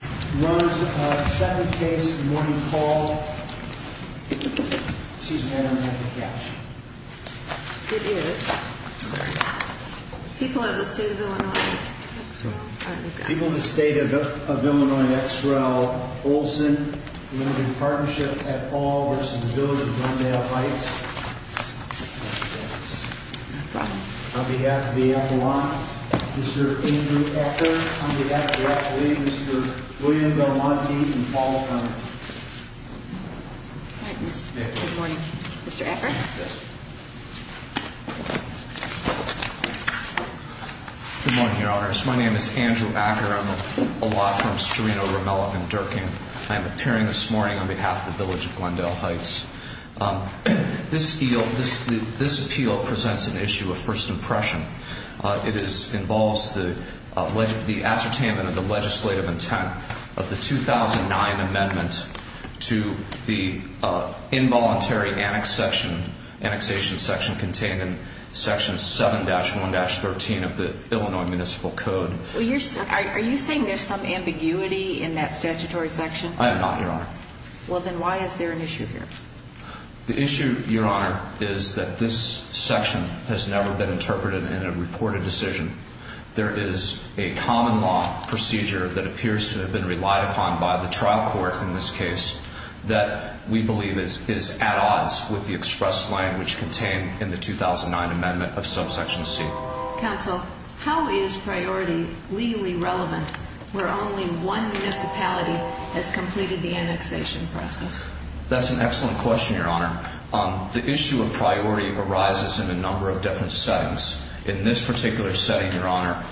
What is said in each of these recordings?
R & D Olson Limited Partnership v. Village of Glendale Heights Mr. Andrew Acker. On behalf of the FAA, Mr. Andrew Acker. On behalf of the FAA, Mr. William Belmonti and Paul Cunningham. Good morning, Mr. Acker. Good morning, Your Honors. My name is Andrew Acker. I'm a law firm, Strano, Romello, and Durkin. I am appearing this morning on behalf of the Village of Glendale Heights. This appeal presents an issue of first impression. It involves the ascertainment of the legislative intent of the 2009 amendment to the involuntary annexation section contained in section 7-1-13 of the Illinois Municipal Code. Are you saying there's some ambiguity in that statutory section? I am not, Your Honor. Well, then why is there an issue here? The issue, Your Honor, is that this section has never been interpreted in a reported decision. There is a common law procedure that appears to have been relied upon by the trial court in this case that we believe is at odds with the express lane which contained in the 2009 amendment of subsection C. Counsel, how is priority legally relevant where only one municipality has completed the annexation process? That's an excellent question, Your Honor. The issue of priority arises in a number of different settings. In this particular setting, Your Honor,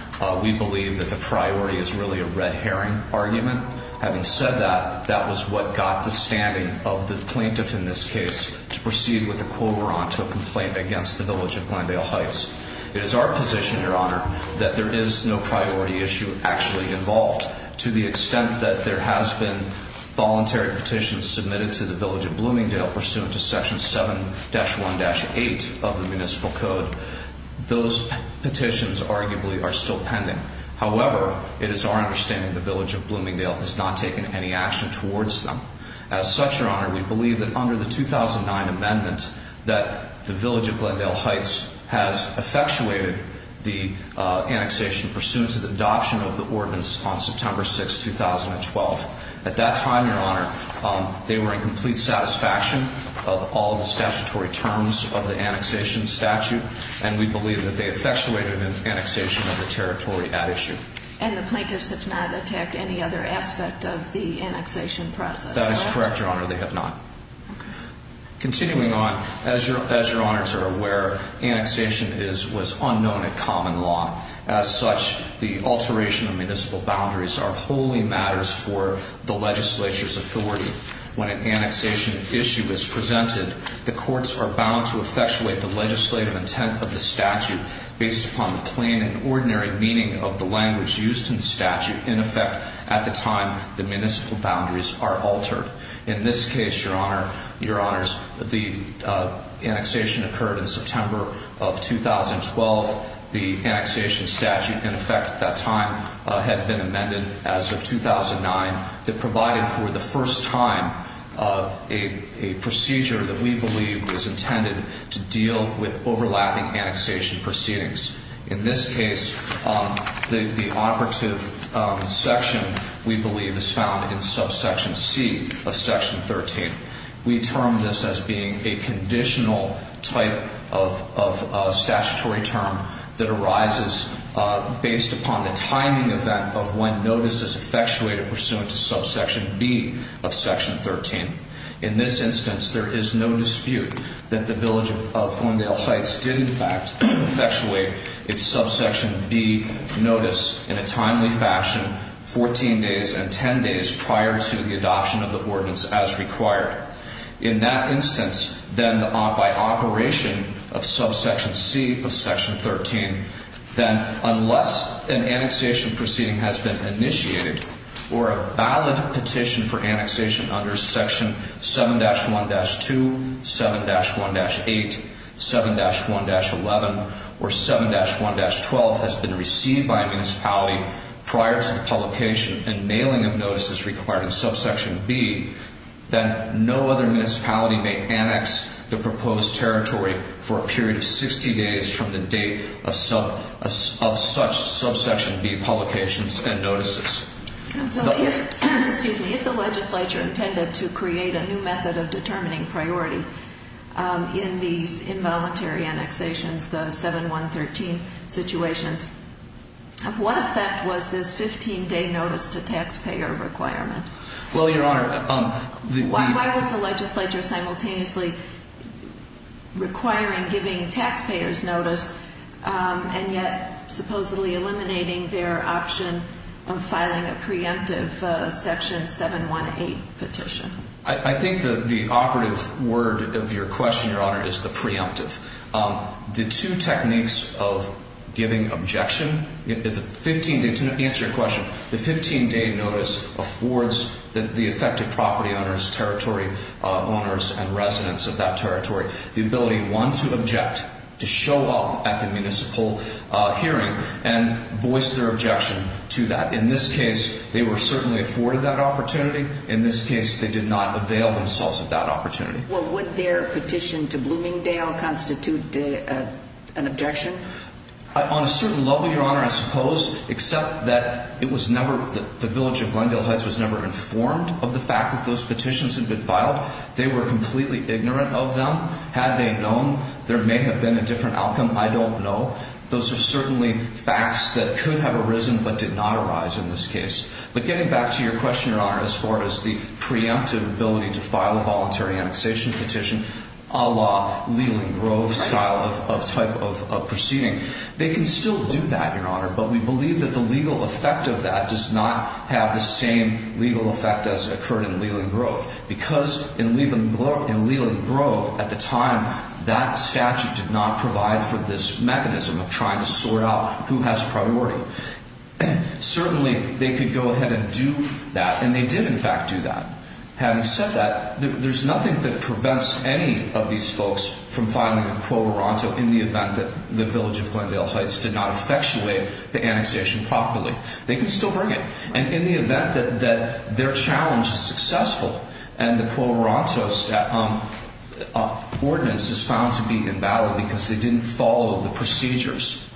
we believe that the priority is really a red herring argument. Having said that, that was what got the standing of the plaintiff in this case to proceed with a quorum to a complaint against the Village of Glendale Heights. It is our position, Your Honor, that there is no priority issue actually involved. To the extent that there has been voluntary petitions submitted to the Village of Bloomingdale pursuant to section 7-1-8 of the Municipal Code, those petitions arguably are still pending. However, it is our understanding the Village of Bloomingdale has not taken any action towards them. As such, Your Honor, we believe that under the 2009 amendment that the Village of Glendale Heights has effectuated the annexation pursuant to the adoption of the ordinance on September 6, 2012. At that time, Your Honor, they were in complete satisfaction of all the statutory terms of the annexation statute, and we believe that they effectuated an annexation of the territory at issue. And the plaintiffs have not attacked any other aspect of the annexation process? That is correct, Your Honor, they have not. Continuing on, as Your Honors are aware, annexation was unknown at common law. As such, the alteration of municipal boundaries are wholly matters for the legislature's authority. When an annexation issue is presented, the courts are bound to effectuate the legislative intent of the statute based upon the plain and ordinary meaning of the language used in the statute. In effect, at the time, the municipal boundaries are altered. In this case, Your Honors, the annexation occurred in September of 2012. The annexation statute, in effect at that time, had been amended as of 2009. It provided for the first time a procedure that we believe was intended to deal with overlapping annexation proceedings. In this case, the operative section, we believe, is found in subsection C of section 13. We term this as being a conditional type of statutory term that arises based upon the timing event of when notices effectuated pursuant to subsection B of section 13. In this instance, there is no dispute that the village of Glendale Heights did, in fact, effectuate its subsection B notice in a timely fashion 14 days and 10 days prior to the adoption of the ordinance as required. In that instance, then by operation of subsection C of section 13, then unless an annexation proceeding has been initiated or a valid petition for annexation under section 7-1-2, 7-1-8, 7-1-11, or 7-1-12 has been received by a municipality prior to the publication and mailing of notices required in subsection B, then no other municipality may annex the proposed territory for a period of 60 days from the date of such subsection B publications and notices. And so if, excuse me, if the legislature intended to create a new method of determining priority in these involuntary annexations, the 7-1-13 situations, of what effect was this 15-day notice to taxpayer requirement? Well, Your Honor, the... Why was the legislature simultaneously requiring giving taxpayers notice and yet supposedly eliminating their option of filing a preemptive section 7-1-8 petition? I think the operative word of your question, Your Honor, is the preemptive. The two techniques of giving objection... To answer your question, the 15-day notice affords the affected property owners, territory owners, and residents of that territory the ability, one, to object, to show up at the municipal hearing and voice their objection to that. In this case, they were certainly afforded that opportunity. In this case, they did not avail themselves of that opportunity. Well, would their petition to Bloomingdale constitute an objection? On a certain level, Your Honor, I suppose, except that it was never... The village of Glendale Heights was never informed of the fact that those petitions had been filed. They were completely ignorant of them. Had they known, there may have been a different outcome. I don't know. Those are certainly facts that could have arisen but did not arise in this case. But getting back to your question, Your Honor, as far as the preemptive ability to file a voluntary annexation petition, a la Leland Grove style of type of proceeding. They can still do that, Your Honor, but we believe that the legal effect of that does not have the same legal effect as occurred in Leland Grove. Because in Leland Grove, at the time, that statute did not provide for this mechanism of trying to sort out who has priority. Certainly, they could go ahead and do that and they did, in fact, do that. Having said that, there's nothing that prevents any of these folks from filing a Quo Veronto in the event that the village of Glendale Heights did not effectuate the annexation properly. They can still bring it. And in the event that their challenge is successful and the Quo Veronto's ordinance is found to be invalid because they didn't follow the procedures.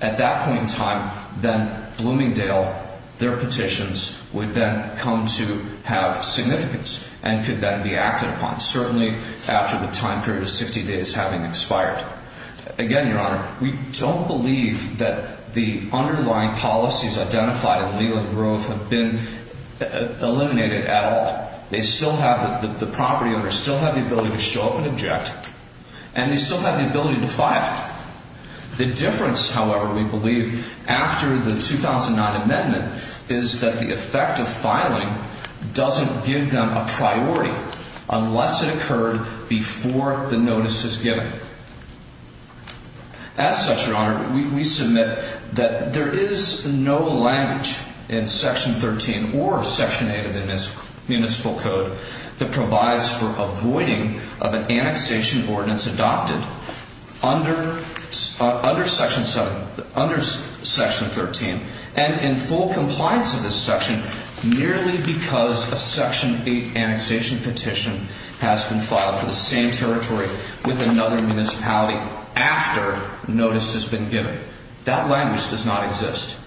At that point in time, then, Bloomingdale, their petitions would then come to have significance and could then be acted upon. Certainly, after the time period of 60 days having expired. Again, Your Honor, we don't believe that the underlying policies identified in Leland Grove have been eliminated at all. They still have, the property owners still have the ability to show up and object and they still have the ability to file. The difference, however, we believe after the 2009 amendment is that the effect of filing doesn't give them a priority unless it occurred before the notice is given. As such, Your Honor, we submit that there is no language in Section 13 or Section 8 of the Municipal Code that provides for avoiding of an annexation ordinance adopted under Section 13. And in full compliance of this section, merely because a Section 8 annexation petition has been filed for the same territory with another municipality after notice has been given. That language does not exist.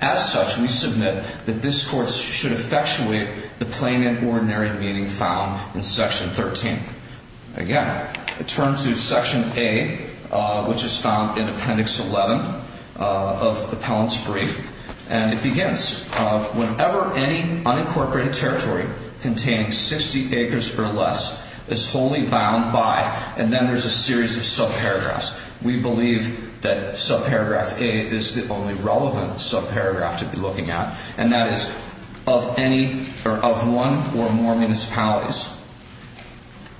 As such, we submit that this Court should effectuate the plain and ordinary meaning found in Section 13. Again, it turns to Section A, which is found in Appendix 11 of Appellant's brief. And it begins, whenever any unincorporated territory containing 60 acres or less is wholly bound by, and then there's a series of subparagraphs. We believe that subparagraph A is the only relevant subparagraph to be looking at. And that is of one or more municipalities.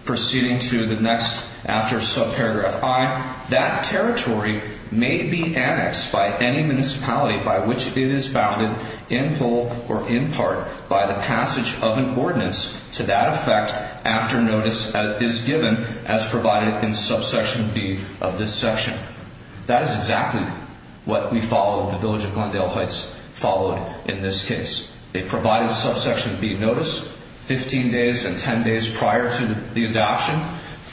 Proceeding to the next after subparagraph I, that territory may be annexed by any municipality by which it is bounded in whole or in part by the passage of an ordinance to that effect after notice is given as provided in subsection B of this section. That is exactly what we follow, the Village of Glendale Heights followed in this case. They provided subsection B notice 15 days and 10 days prior to the adoption.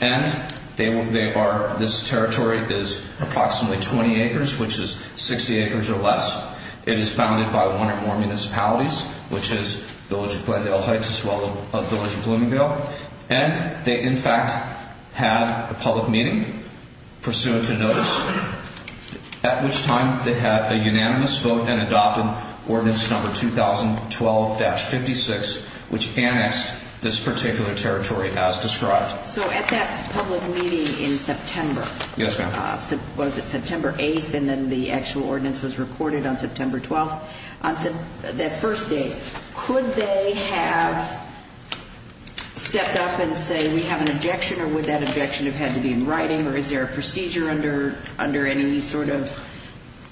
And they are, this territory is approximately 20 acres, which is 60 acres or less. It is bounded by one or more municipalities, which is Village of Glendale Heights as well as Village of Bloomingdale. And they, in fact, had a public meeting pursuant to notice, at which time they had a unanimous vote and adopted ordinance number 2012-56, which annexed this particular territory as described. So at that public meeting in September, was it September 8th and then the actual ordinance was recorded on September 12th, that first date, could they have stepped up and say we have an objection or would that objection have had to be in writing or is there a procedure under any sort of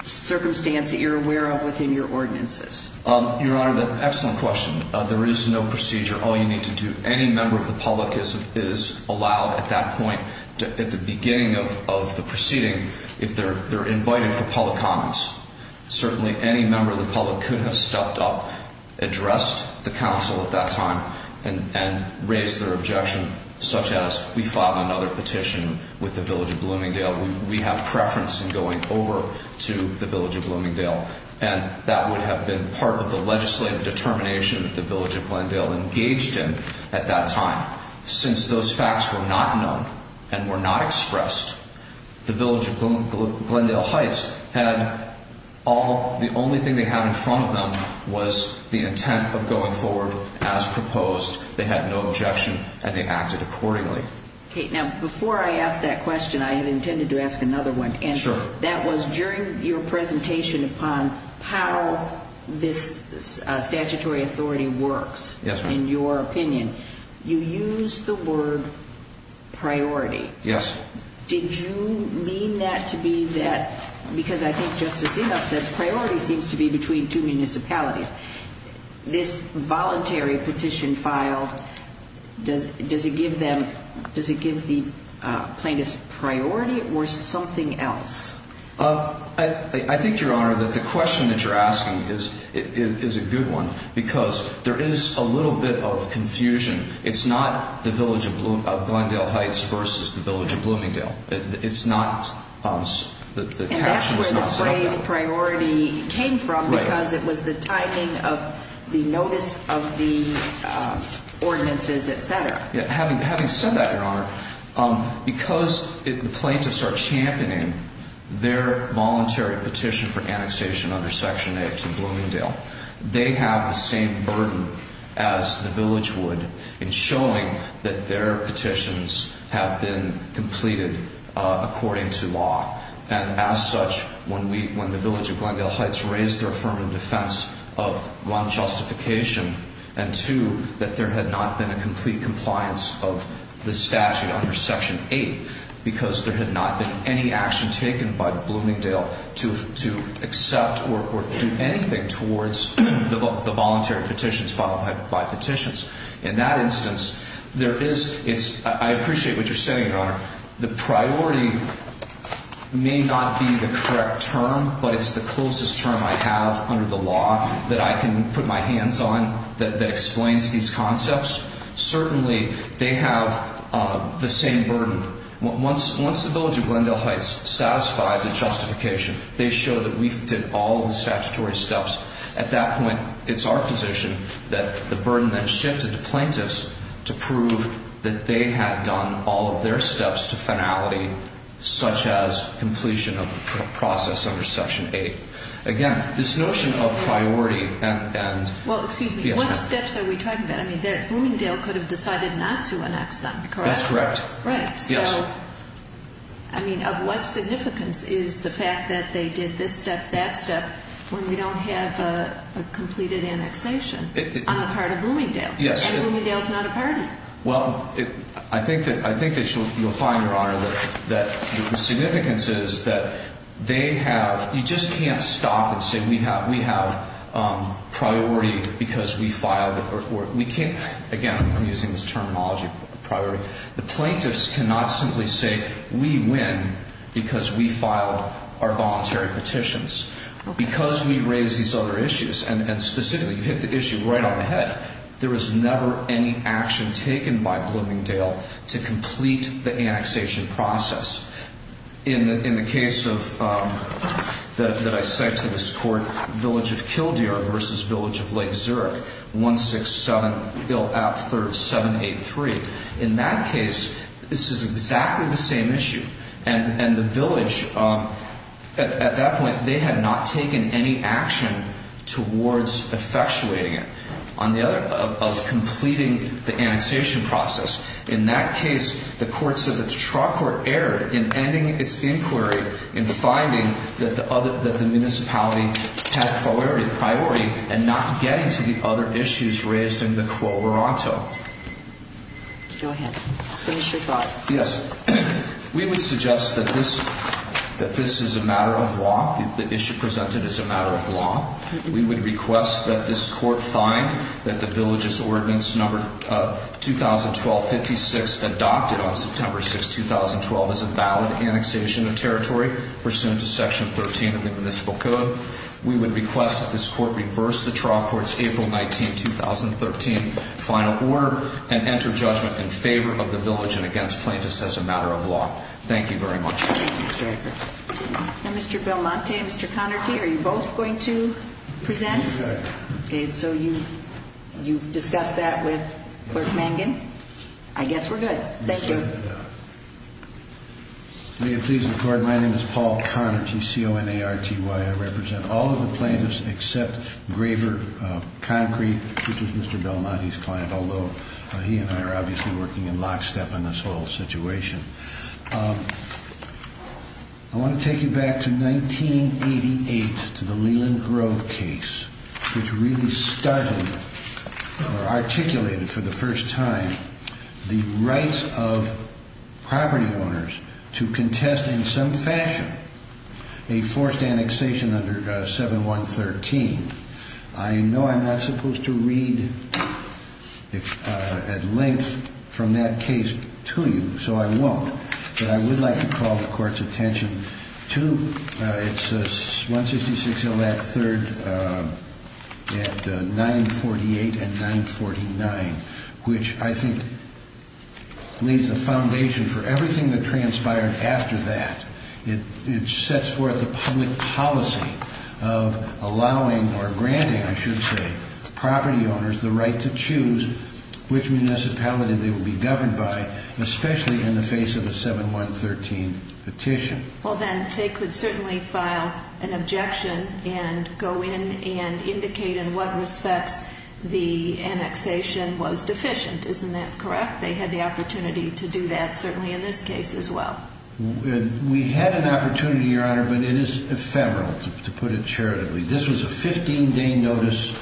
circumstance that you're aware of within your ordinances? Your Honor, excellent question. There is no procedure. All you need to do, any member of the public is allowed at that point, at the beginning of the proceeding, if they're invited for public comments. Certainly any member of the public could have stepped up, addressed the council at that time, and raised their objection, such as we filed another petition with the Village of Bloomingdale. We have preference in going over to the Village of Bloomingdale. And that would have been part of the legislative determination that the Village of Glendale engaged in at that time, since those facts were not known and were not expressed. The Village of Glendale Heights had all, the only thing they had in front of them was the intent of going forward as proposed. They had no objection and they acted accordingly. Okay. Now, before I ask that question, I had intended to ask another one. Sure. And that was during your presentation upon how this statutory authority works in your opinion. You used the word priority. Yes. Did you mean that to be that, because I think Justice Inhofe said priority seems to be between two municipalities. This voluntary petition filed, does it give them, does it give the plaintiffs priority or something else? I think, Your Honor, that the question that you're asking is a good one, because there is a little bit of confusion. It's not the Village of Glendale Heights versus the Village of Bloomingdale. It's not, the caption is not something else. Priority came from because it was the timing of the notice of the ordinances, et cetera. Having said that, Your Honor, because the plaintiffs are championing their voluntary petition for annexation under Section 8 to Bloomingdale, they have the same burden as the Village would in showing that their petitions have been completed according to law. And as such, when the Village of Glendale Heights raised their affirmative defense of one, justification, and two, that there had not been a complete compliance of the statute under Section 8, because there had not been any action taken by Bloomingdale to accept or do anything towards the voluntary petitions filed by petitions. In that instance, there is, I appreciate what you're saying, Your Honor. The priority may not be the correct term, but it's the closest term I have under the law that I can put my hands on that explains these concepts. Certainly, they have the same burden. Once the Village of Glendale Heights satisfied the justification, they show that we did all the statutory steps. At that point, it's our position that the burden then shifted to plaintiffs to prove that they had done all of their steps to finality, such as completion of the process under Section 8. Again, this notion of priority and yes, ma'am. Well, excuse me. What steps are we talking about? I mean, Bloomingdale could have decided not to annex them, correct? That's correct. Right. Yes. So, I mean, of what significance is the fact that they did this step, that step, when we don't have a completed annexation on the part of Bloomingdale? Yes. And Bloomingdale is not a party. Well, I think that you'll find, Your Honor, that the significance is that they have, you just can't stop and say we have priority because we filed. Again, I'm using this terminology, priority. The plaintiffs cannot simply say we win because we filed our voluntary petitions. Because we raised these other issues, and specifically, you hit the issue right on the head, there was never any action taken by Bloomingdale to complete the annexation process. In the case of, that I cite to this court, Village of Kildare versus Village of Lake Zurich, 167-IL-AP-3783. In that case, this is exactly the same issue. And the village, at that point, they had not taken any action towards effectuating it on the other, of completing the annexation process. In that case, the court said that the trial court erred in ending its inquiry and finding that the municipality had priority and not getting to the other issues raised in the quo morato. Go ahead. Finish your thought. Yes. We would suggest that this is a matter of law, the issue presented is a matter of law. We would request that this court find that the village's ordinance number 2012-56 adopted on September 6, 2012 is a valid annexation of territory pursuant to section 13 of the municipal code. We would request that this court reverse the trial court's April 19, 2013 final order and enter judgment in favor of the village and against plaintiffs as a matter of law. Thank you very much. Mr. Belmonte and Mr. Connerty, are you both going to present? Yes. Okay, so you've discussed that with Clerk Mangan. I guess we're good. Thank you. May it please the court, my name is Paul Connerty, C-O-N-A-R-T-Y. I represent all of the plaintiffs except Graber Concrete, which is Mr. Belmonte's client, although he and I are obviously working in lockstep on this whole situation. I want to take you back to 1988, to the Leland Grove case, which really started or articulated for the first time the rights of property owners to contest in some fashion a forced annexation under 7113. I know I'm not supposed to read at length from that case to you, so I won't. But I would like to call the court's attention to 166 L.F. 3rd at 948 and 949, which I think leaves a foundation for everything that transpired after that. It sets forth a public policy of allowing or granting, I should say, property owners the right to choose which municipality they will be governed by, especially in the face of a 7113 petition. Well, then they could certainly file an objection and go in and indicate in what respects the annexation was deficient, isn't that correct? They had the opportunity to do that certainly in this case as well. We had an opportunity, Your Honor, but it is ephemeral, to put it charitably. This was a 15-day notice.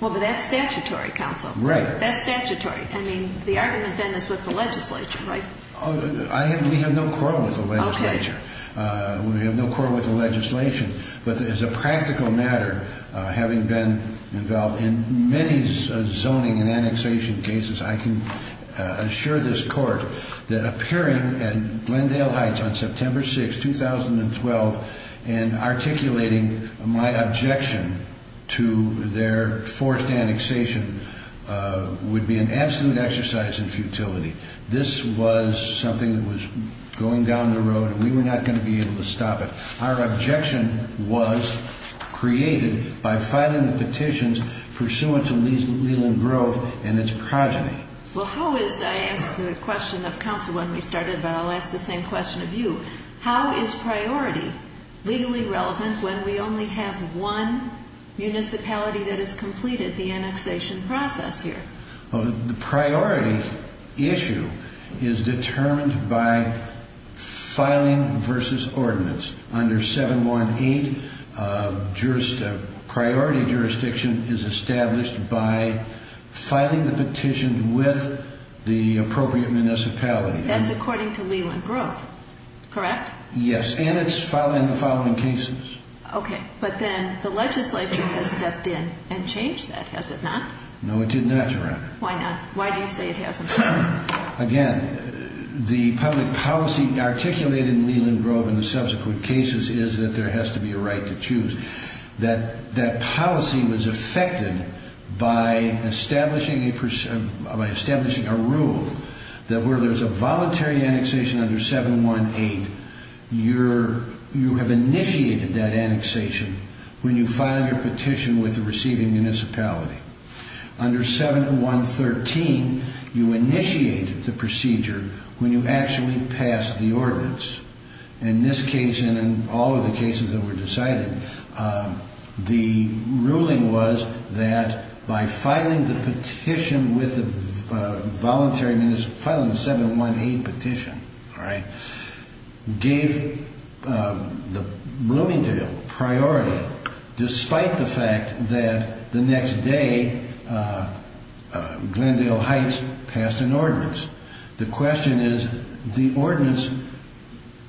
Well, but that's statutory, Counsel. Right. That's statutory. I mean, the argument then is with the legislature, right? We have no quarrel with the legislature. Okay. We have no quarrel with the legislation. But as a practical matter, having been involved in many zoning and annexation cases, I can assure this court that appearing at Glendale Heights on September 6, 2012, and articulating my objection to their forced annexation would be an absolute exercise in futility. This was something that was going down the road, and we were not going to be able to stop it. Our objection was created by filing the petitions pursuant to Leland Grove and its progeny. Well, how is, I asked the question of Counsel when we started, but I'll ask the same question of you. How is priority legally relevant when we only have one municipality that has completed the annexation process here? Well, the priority issue is determined by filing versus ordinance. Under 718, a priority jurisdiction is established by filing the petition with the appropriate municipality. That's according to Leland Grove, correct? Yes, and it's in the following cases. Okay, but then the legislature has stepped in and changed that, has it not? No, it did not, Your Honor. Why not? Why do you say it hasn't? Again, the public policy articulated in Leland Grove in the subsequent cases is that there has to be a right to choose. That policy was effected by establishing a rule that where there's a voluntary annexation under 718, you have initiated that annexation when you file your petition with the receiving municipality. Under 7113, you initiate the procedure when you actually pass the ordinance. In this case and in all of the cases that were decided, the ruling was that by filing the petition with the voluntary municipality, filing the 718 petition, gave Bloomingdale priority, despite the fact that the next day Glendale Heights passed an ordinance. The question is, the ordinance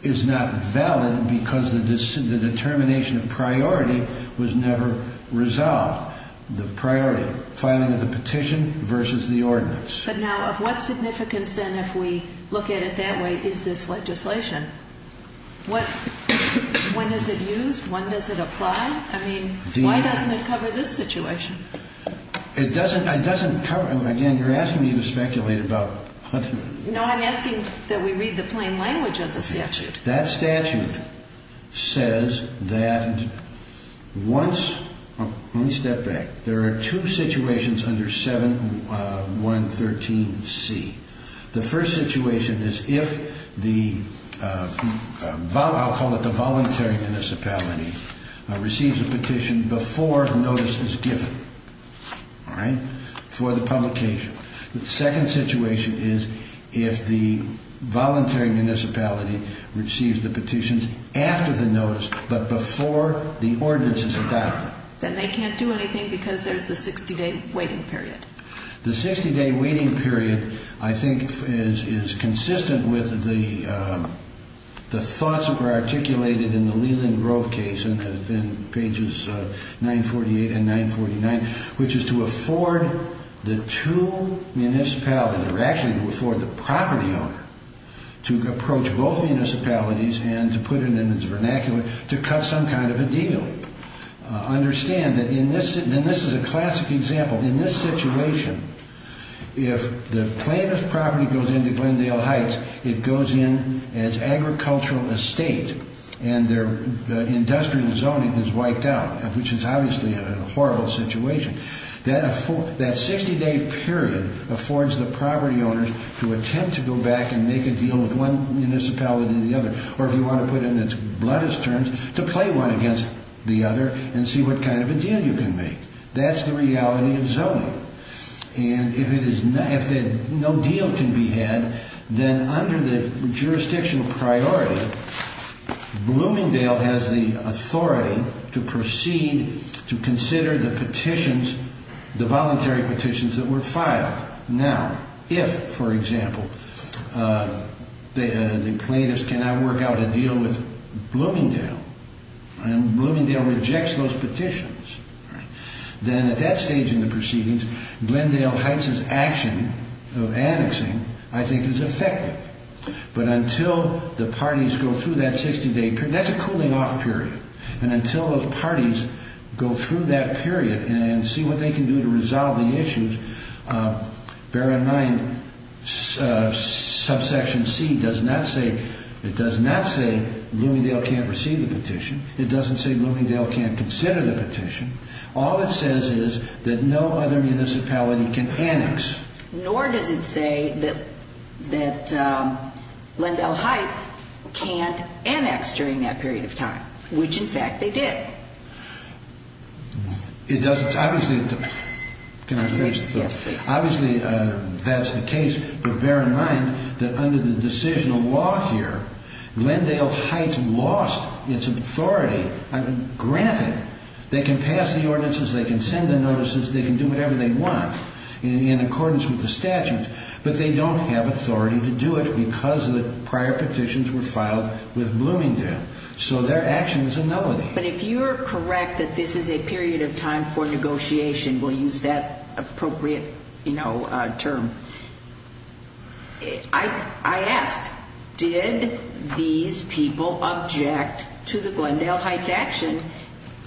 is not valid because the determination of priority was never resolved. The priority, filing of the petition versus the ordinance. But now, of what significance then, if we look at it that way, is this legislation? When is it used? When does it apply? I mean, why doesn't it cover this situation? It doesn't cover it. Again, you're asking me to speculate about Huntsman. No, I'm asking that we read the plain language of the statute. That statute says that once, let me step back, there are two situations under 7113C. The first situation is if the, I'll call it the voluntary municipality, receives a petition before notice is given for the publication. The second situation is if the voluntary municipality receives the petitions after the notice, but before the ordinance is adopted. Then they can't do anything because there's the 60-day waiting period. The 60-day waiting period, I think, is consistent with the thoughts that were articulated in the Leland Grove case in pages 948 and 949, which is to afford the two municipalities, or actually to afford the property owner to approach both municipalities and to put it in its vernacular to cut some kind of a deal. Understand that in this, and this is a classic example, in this situation, if the plaintiff's property goes into Glendale Heights, it goes in as agricultural estate and their industrial zoning is wiped out, which is obviously a horrible situation. That 60-day period affords the property owners to attempt to go back and make a deal with one municipality or the other, or if you want to put it in its bloodiest terms, to play one against the other and see what kind of a deal you can make. That's the reality of zoning. And if no deal can be had, then under the jurisdictional priority, Bloomingdale has the authority to proceed to consider the petitions, the voluntary petitions that were filed. Now, if, for example, the plaintiffs cannot work out a deal with Bloomingdale, and Bloomingdale rejects those petitions, then at that stage in the proceedings, Glendale Heights' action of annexing, I think, is effective. But until the parties go through that 60-day period, that's a cooling-off period, and until the parties go through that period and see what they can do to resolve the issues, bear in mind subsection C does not say Bloomingdale can't receive the petition. It doesn't say Bloomingdale can't consider the petition. All it says is that no other municipality can annex. Nor does it say that Glendale Heights can't annex during that period of time, which, in fact, they did. It doesn't. Obviously, that's the case. But bear in mind that under the decisional law here, Glendale Heights lost its authority. Granted, they can pass the ordinances, they can send the notices, they can do whatever they want in accordance with the statutes, but they don't have authority to do it because the prior petitions were filed with Bloomingdale. So their action is a nullity. But if you're correct that this is a period of time for negotiation, we'll use that appropriate term, I asked, did these people object to the Glendale Heights action?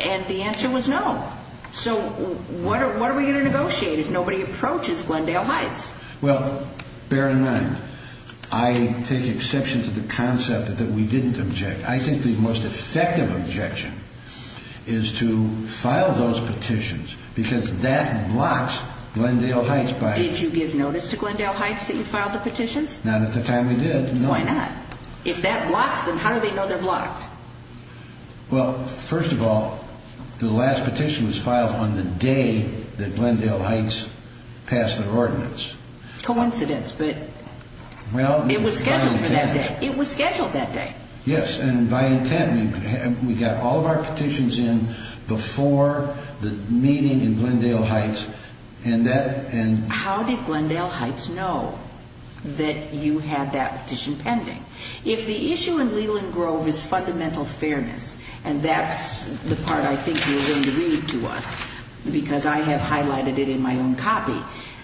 And the answer was no. So what are we going to negotiate if nobody approaches Glendale Heights? Well, bear in mind, I take exception to the concept that we didn't object. I think the most effective objection is to file those petitions because that blocks Glendale Heights by Did you give notice to Glendale Heights that you filed the petitions? Not at the time we did. Why not? If that blocks them, how do they know they're blocked? Well, first of all, the last petition was filed on the day that Glendale Heights passed their ordinance. Coincidence, but it was scheduled for that day. It was scheduled that day. Yes, and by intent. We got all of our petitions in before the meeting in Glendale Heights. How did Glendale Heights know that you had that petition pending? If the issue in Leland Grove is fundamental fairness, and that's the part I think you're going to read to us, because I have highlighted it in my own copy,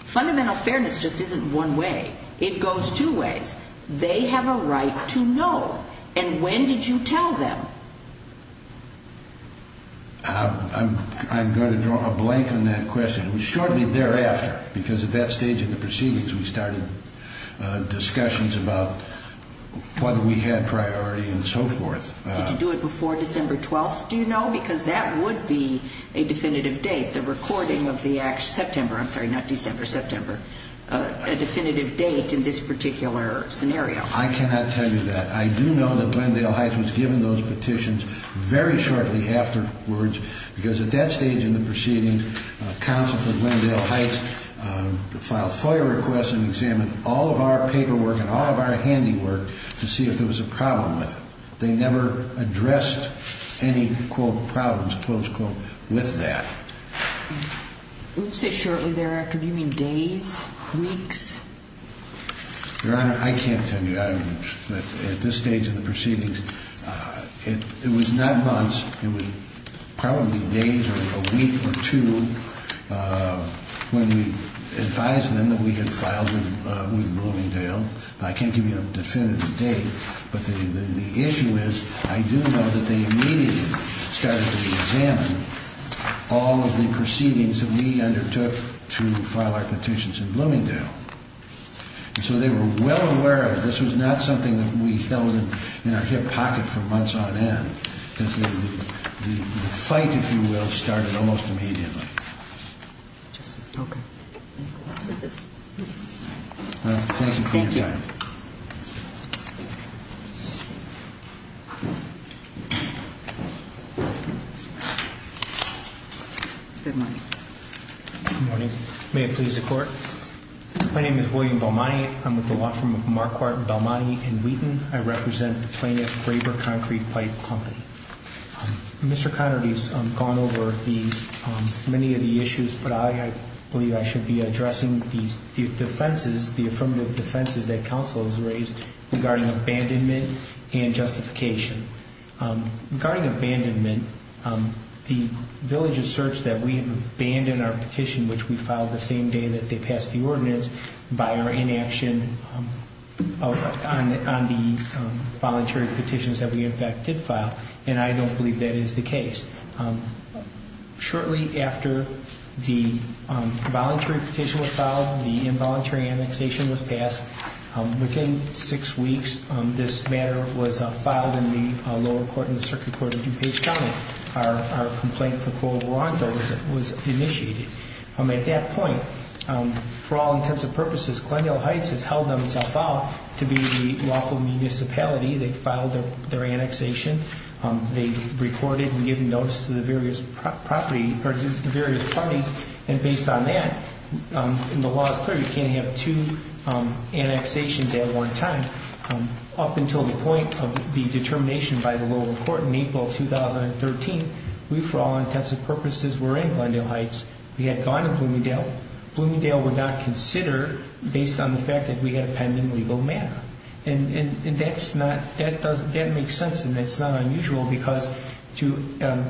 fundamental fairness just isn't one way. It goes two ways. They have a right to know. And when did you tell them? I'm going to draw a blank on that question. Shortly thereafter, because at that stage of the proceedings, we started discussions about whether we had priority and so forth. Did you do it before December 12th? Do you know? Because that would be a definitive date, the recording of the September, I'm sorry, not December, September, a definitive date in this particular scenario. I cannot tell you that. I do know that Glendale Heights was given those petitions very shortly afterwards, because at that stage in the proceedings, counsel for Glendale Heights filed FOIA requests and examined all of our paperwork and all of our handiwork to see if there was a problem with it. They never addressed any, quote, problems, close quote, with that. Would you say shortly thereafter? Do you mean days, weeks? Your Honor, I can't tell you. At this stage in the proceedings, it was not months. It was probably days or a week or two when we advised them that we had filed with Bloomingdale. I can't give you a definitive date. But the issue is I do know that they immediately started to examine all of the proceedings that we undertook to file our petitions in Bloomingdale. And so they were well aware of it. This was not something that we held in our hip pocket for months on end. The fight, if you will, started almost immediately. Thank you for your time. Thank you. Good morning. Good morning. May it please the Court. My name is William Belmonte. I'm with the law firm of Marquardt, Belmonte & Wheaton. I represent the plaintiff, Graber Concrete Pipe Company. Mr. Connerty's gone over many of the issues, but I believe I should be addressing the defenses, the affirmative defenses that counsel has raised regarding abandonment and justification. Regarding abandonment, the village asserts that we abandoned our petition, which we filed the same day that they passed the ordinance, by our inaction on the voluntary petitions that we in fact did file. And I don't believe that is the case. Shortly after the voluntary petition was filed, the involuntary annexation was passed. Within six weeks, this matter was filed in the lower court, in the circuit court of DuPage County. Our complaint for co-abandonment was initiated. At that point, for all intents and purposes, Glendale Heights has held themselves out to be the lawful municipality. They filed their annexation. They reported and gave notice to the various parties. And based on that, and the law is clear, you can't have two annexations at one time. Up until the point of the determination by the lower court in April of 2013, we, for all intents and purposes, were in Glendale Heights. We had gone to Bloomingdale. Bloomingdale would not consider, based on the fact that we had a pending legal matter. And that's not, that makes sense and it's not unusual because to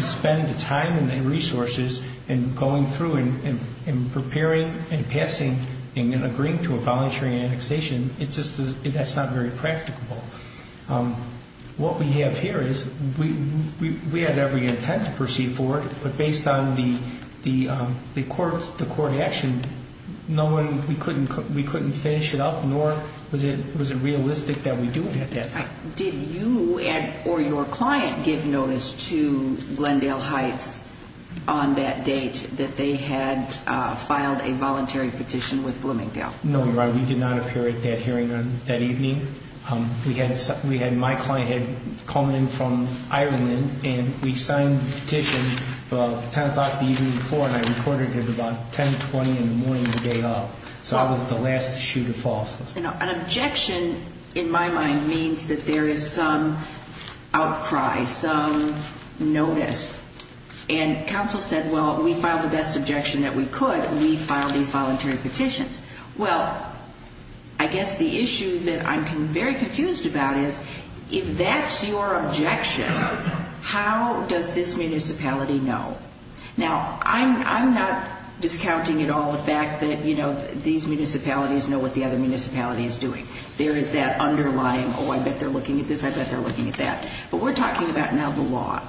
spend the time and the resources and going through and preparing and passing and agreeing to a voluntary annexation, it's just, that's not very practicable. What we have here is, we had every intent to proceed forward, but based on the court action, no one, we couldn't finish it up, nor was it realistic that we do it at that time. Did you or your client give notice to Glendale Heights on that date that they had filed a voluntary petition with Bloomingdale? No, Your Honor, we did not appear at that hearing that evening. We had, my client had come in from Ireland and we signed the petition about 10 o'clock the evening before and I recorded it about 10, 20 in the morning the day of. So I was the last shoe to fall. An objection, in my mind, means that there is some outcry, some notice. And counsel said, well, we filed the best objection that we could and we filed these voluntary petitions. Well, I guess the issue that I'm very confused about is, if that's your objection, how does this municipality know? Now, I'm not discounting at all the fact that, you know, these municipalities know what the other municipality is doing. There is that underlying, oh, I bet they're looking at this, I bet they're looking at that. But we're talking about now the law.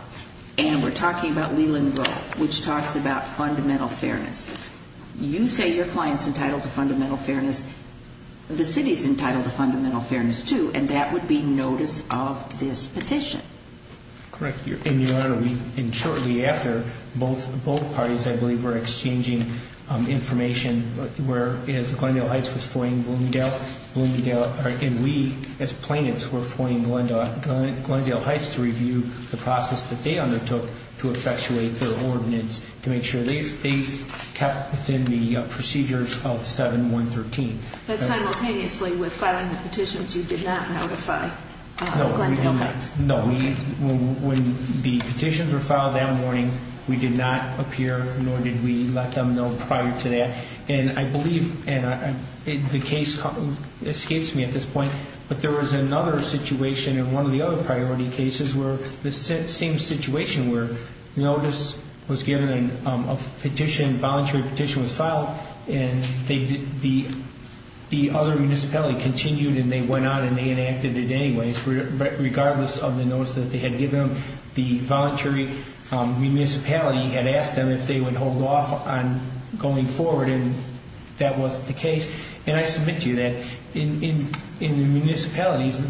And we're talking about Leland Grove, which talks about fundamental fairness. You say your client's entitled to fundamental fairness. The city's entitled to fundamental fairness, too. And that would be notice of this petition. Correct, Your Honor. And shortly after, both parties, I believe, were exchanging information, whereas Glendale Heights was foiling Bloomingdale. And we, as plaintiffs, were foiling Glendale Heights to review the process that they undertook to effectuate their ordinance, to make sure they kept within the procedures of 7113. But simultaneously with filing the petitions, you did not notify Glendale Heights. No. When the petitions were filed that morning, we did not appear, nor did we let them know prior to that. And I believe, and the case escapes me at this point, but there was another situation in one of the other priority cases where the same situation where notice was given and a petition, voluntary petition was filed, and the other municipality continued and they went on and they enacted it anyways, regardless of the notice that they had given them. The voluntary municipality had asked them if they would hold off on going forward, and that wasn't the case. And I submit to you that in the municipalities,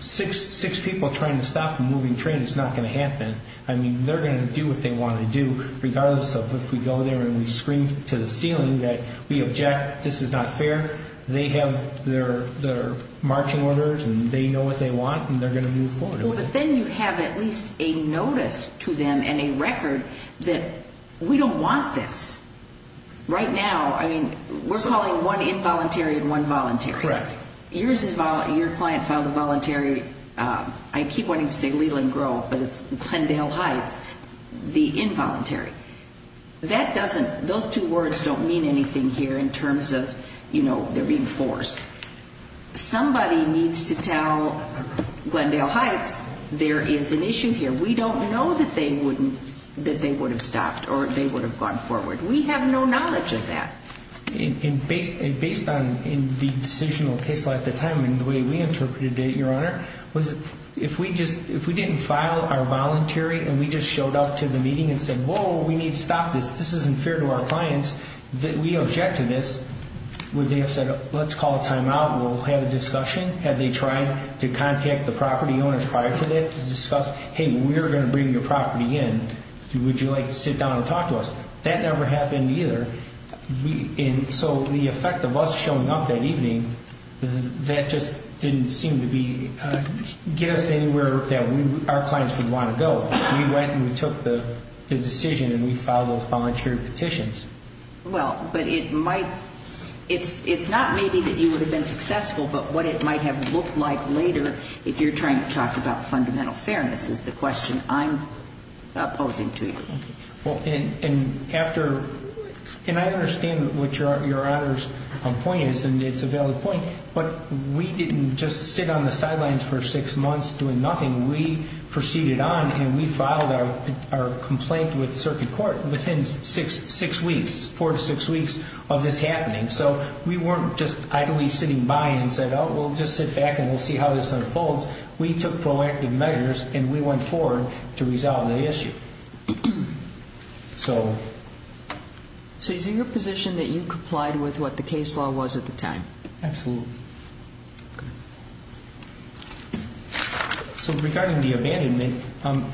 six people trying to stop a moving train is not going to happen. I mean, they're going to do what they want to do, regardless of if we go there and we scream to the ceiling that we object, this is not fair. They have their marching orders and they know what they want and they're going to move forward. Well, but then you have at least a notice to them and a record that we don't want this. Right now, I mean, we're calling one involuntary and one voluntary. Correct. Your client filed a voluntary, I keep wanting to say legal in growth, but it's Glendale Heights, the involuntary. That doesn't, those two words don't mean anything here in terms of, you know, they're being forced. Somebody needs to tell Glendale Heights there is an issue here. We don't know that they wouldn't, that they would have stopped or they would have gone forward. We have no knowledge of that. And based on the decisional case at the time and the way we interpreted it, Your Honor, was if we just, if we didn't file our voluntary and we just showed up to the meeting and said, whoa, we need to stop this, this isn't fair to our clients, that we object to this, would they have said, let's call a timeout and we'll have a discussion? Had they tried to contact the property owners prior to that to discuss, hey, we're going to bring your property in, would you like to sit down and talk to us? That never happened either. And so the effect of us showing up that evening, that just didn't seem to be, get us anywhere that our clients would want to go. We went and we took the decision and we filed those voluntary petitions. Well, but it might, it's not maybe that you would have been successful, but what it might have looked like later if you're trying to talk about fundamental fairness is the question I'm posing to you. Well, and after, and I understand what Your Honor's point is, and it's a valid point, but we didn't just sit on the sidelines for six months doing nothing. We proceeded on and we filed our complaint with circuit court within six weeks, four to six weeks of this happening. So we weren't just idly sitting by and said, oh, we'll just sit back and we'll see how this unfolds. We took proactive measures and we went forward to resolve the issue. So is it your position that you complied with what the case law was at the time? Absolutely. So regarding the abandonment,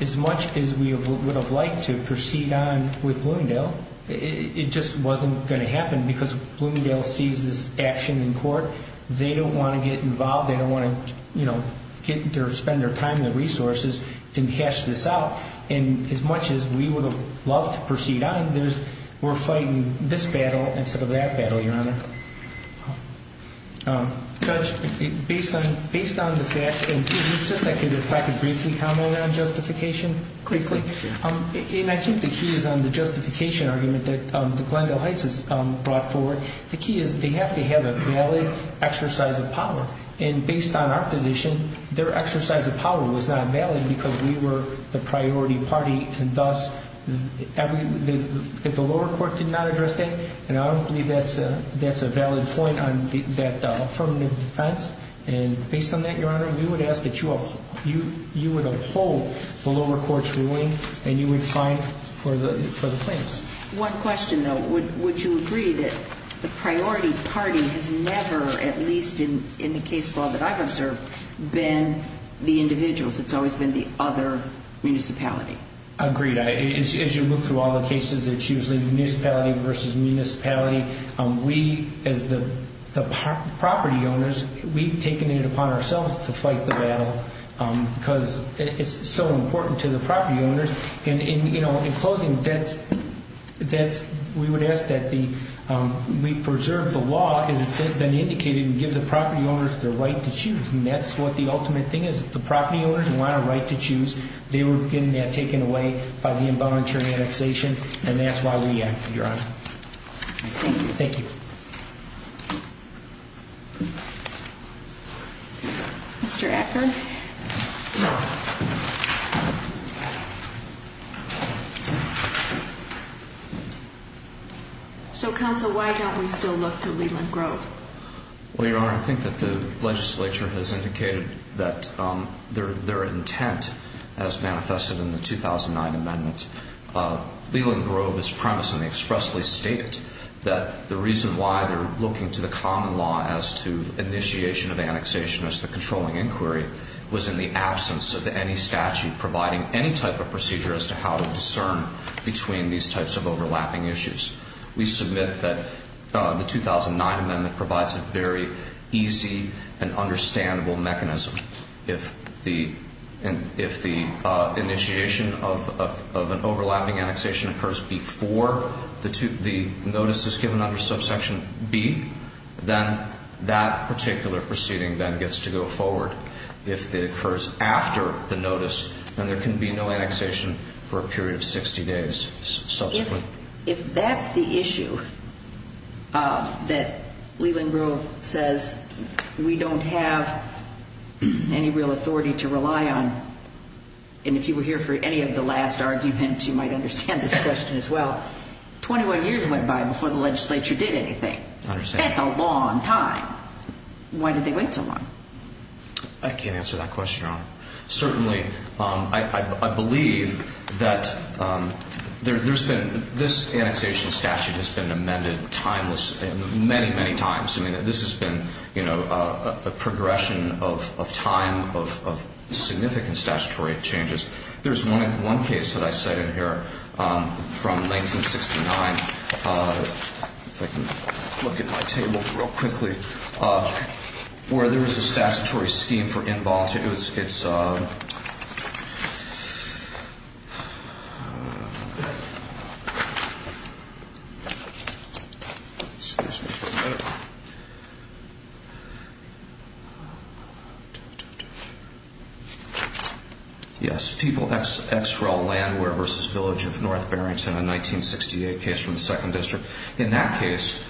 as much as we would have liked to proceed on with Bloomingdale, it just wasn't going to happen because Bloomingdale sees this action in court. They don't want to get involved. They don't want to, you know, get their, spend their time and resources to cash this out. And as much as we would have loved to proceed on, there's, we're fighting this battle instead of that battle, Your Honor. Judge, based on, based on the fact, and could you just, if I could briefly comment on justification? Quickly. And I think the key is on the justification argument that Glendale Heights has brought forward. The key is they have to have a valid exercise of power. And based on our position, their exercise of power was not valid because we were the priority party. And thus, if the lower court did not address that, and I don't believe that's a valid point on that affirmative defense. And based on that, Your Honor, we would ask that you uphold the lower court's ruling and you would fight for the claims. One question, though. Would you agree that the priority party has never, at least in the case law that I've observed, been the individuals? It's always been the other municipality? Agreed. As you look through all the cases, it's usually municipality versus municipality. We, as the property owners, we've taken it upon ourselves to fight the battle because it's so important to the property owners. And, you know, in closing, that's, we would ask that we preserve the law as it's been indicated and give the property owners their right to choose. And that's what the ultimate thing is. If the property owners want a right to choose, they were taken away by the involuntary annexation. And that's why we acted, Your Honor. Thank you. Thank you. Mr. Atkin. So, counsel, why don't we still look to Leland Grove? Well, Your Honor, I think that the legislature has indicated that their intent has manifested in the 2009 amendment. Leland Grove is premise, and they expressly state it, that the reason why they're looking to the common law as to initiation of annexation as the controlling inquiry was in the absence of any statute providing any type of procedure as to how to discern between these types of overlapping issues. We submit that the 2009 amendment provides a very easy and understandable mechanism. If the initiation of an overlapping annexation occurs before the notice is given under subsection B, then that particular proceeding then gets to go forward. If it occurs after the notice, then there can be no annexation for a period of 60 days subsequently. If that's the issue that Leland Grove says we don't have any real authority to rely on, and if you were here for any of the last arguments, you might understand this question as well, 21 years went by before the legislature did anything. I understand. That's a long time. Why did they wait so long? I can't answer that question, Your Honor. Certainly, I believe that there's been, this annexation statute has been amended timeless, many, many times. I mean, this has been a progression of time, of significant statutory changes. There's one case that I cited here from 1969, if I can look at my table real quickly, where there was a statutory scheme for involuntary, it's, excuse me for a minute. Yes, people, XREL Landware versus Village of North Barrington, a 1968 case from the 2nd District. In that case,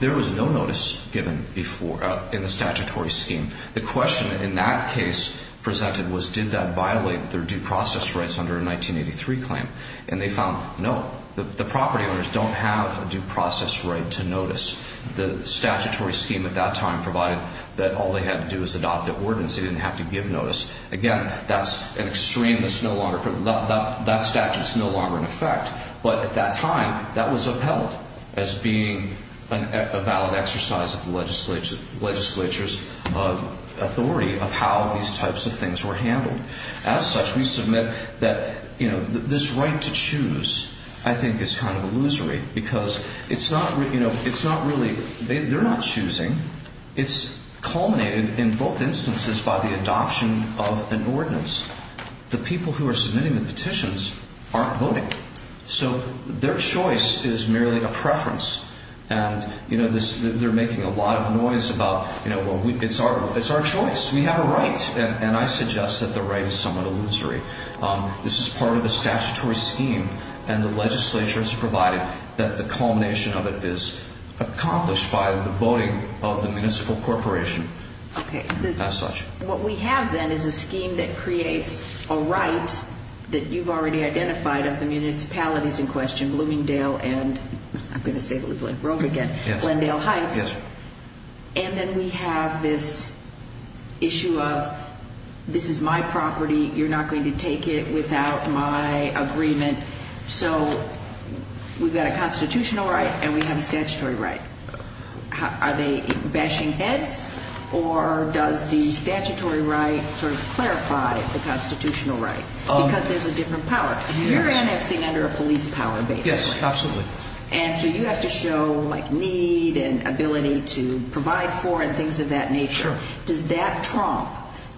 there was no notice given before, in the statutory scheme. The question in that case presented was did that violate their due process rights under a 1983 claim? And they found no. The property owners don't have a due process right to notice. The statutory scheme at that time provided that all they had to do was adopt an ordinance. They didn't have to give notice. Again, that's an extreme that's no longer, that statute's no longer in effect. But at that time, that was upheld as being a valid exercise of the legislature's authority of how these types of things were handled. As such, we submit that, you know, this right to choose, I think, is kind of illusory because it's not, you know, it's not really, they're not choosing. It's culminated in both instances by the adoption of an ordinance. The people who are submitting the petitions aren't voting. So their choice is merely a preference. And, you know, they're making a lot of noise about, you know, it's our choice. We have a right. And I suggest that the right is somewhat illusory. This is part of the statutory scheme. And the legislature has provided that the culmination of it is accomplished by the voting of the municipal corporation. Okay. As such. What we have then is a scheme that creates a right that you've already identified of the municipalities in question, Bloomingdale and, I'm going to say it like Rome again, Glendale Heights. Yes. And then we have this issue of this is my property. You're not going to take it without my agreement. So we've got a constitutional right and we have a statutory right. Are they bashing heads or does the statutory right sort of clarify the constitutional right? Because there's a different power. You're annexing under a police power basically. Yes, absolutely. And so you have to show, like, need and ability to provide for and things of that nature. Sure. Does that trump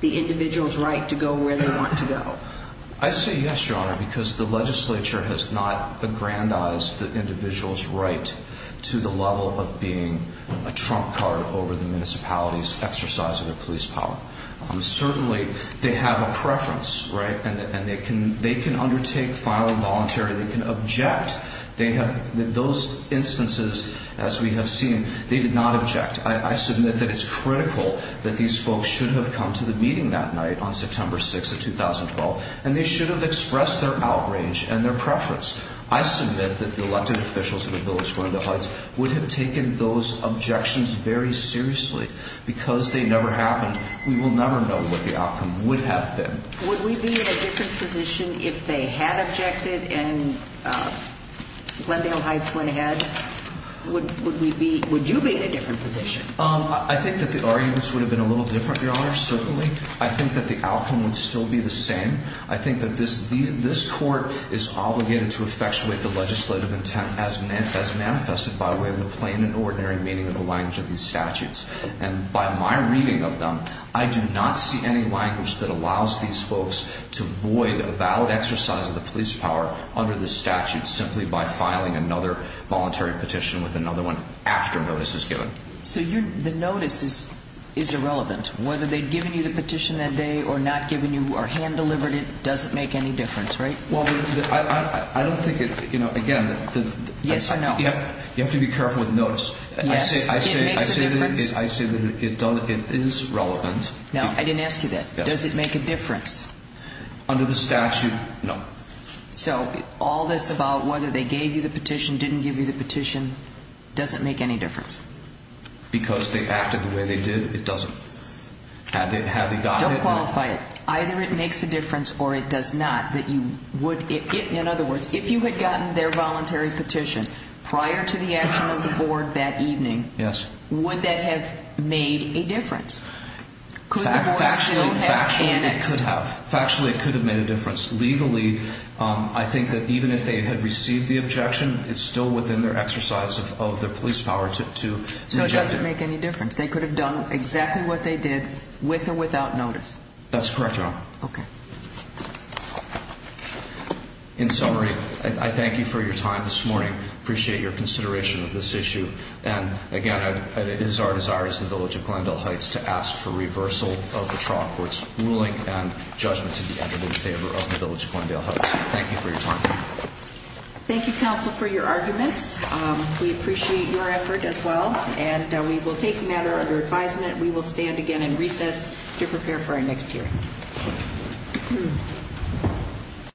the individual's right to go where they want to go? I say yes, Your Honor, because the legislature has not aggrandized the individual's right to the level of being a trump card over the municipality's exercise of their police power. Certainly they have a preference, right? And they can undertake, file involuntary. They can object. Those instances, as we have seen, they did not object. I submit that it's critical that these folks should have come to the meeting that night on September 6th of 2012 and they should have expressed their outrage and their preference. I submit that the elected officials of the village, Glendale Heights, would have taken those objections very seriously. Because they never happened, we will never know what the outcome would have been. Would we be in a different position if they had objected and Glendale Heights went ahead? Would you be in a different position? I think that the arguments would have been a little different, Your Honor, certainly. I think that the outcome would still be the same. I think that this court is obligated to effectuate the legislative intent as manifested by way of the plain and ordinary meaning of the language of these statutes. And by my reading of them, I do not see any language that allows these folks to void a valid exercise of the police power under this statute simply by filing another voluntary petition with another one after notice is given. So the notice is irrelevant. Whether they'd given you the petition that day or not given you or hand-delivered it doesn't make any difference, right? Well, I don't think it, you know, again... Yes or no? You have to be careful with notice. Yes, it makes a difference. I say that it is relevant. No, I didn't ask you that. Does it make a difference? Under the statute, no. So all this about whether they gave you the petition, didn't give you the petition doesn't make any difference? Because they acted the way they did, it doesn't. Had they gotten it... Don't qualify it. Either it makes a difference or it does not that you would... In other words, if you had gotten their voluntary petition prior to the action of the board that evening... Yes. ...would that have made a difference? Could the board still have annexed... Factually, it could have. Factually, it could have made a difference. Legally, I think that even if they had received the objection, it's still within their exercise of their police power to... So it doesn't make any difference. They could have done exactly what they did with or without notice. That's correct, Your Honor. Okay. In summary, I thank you for your time this morning. Appreciate your consideration of this issue. And, again, it is our desire as the village of Glendale Heights to ask for reversal of the trial court's ruling and judgment to be entered in favor of the village of Glendale Heights. Thank you for your time. Thank you, counsel, for your arguments. We appreciate your effort as well. And we will take the matter under advisement. We will stand again in recess to prepare for our next hearing.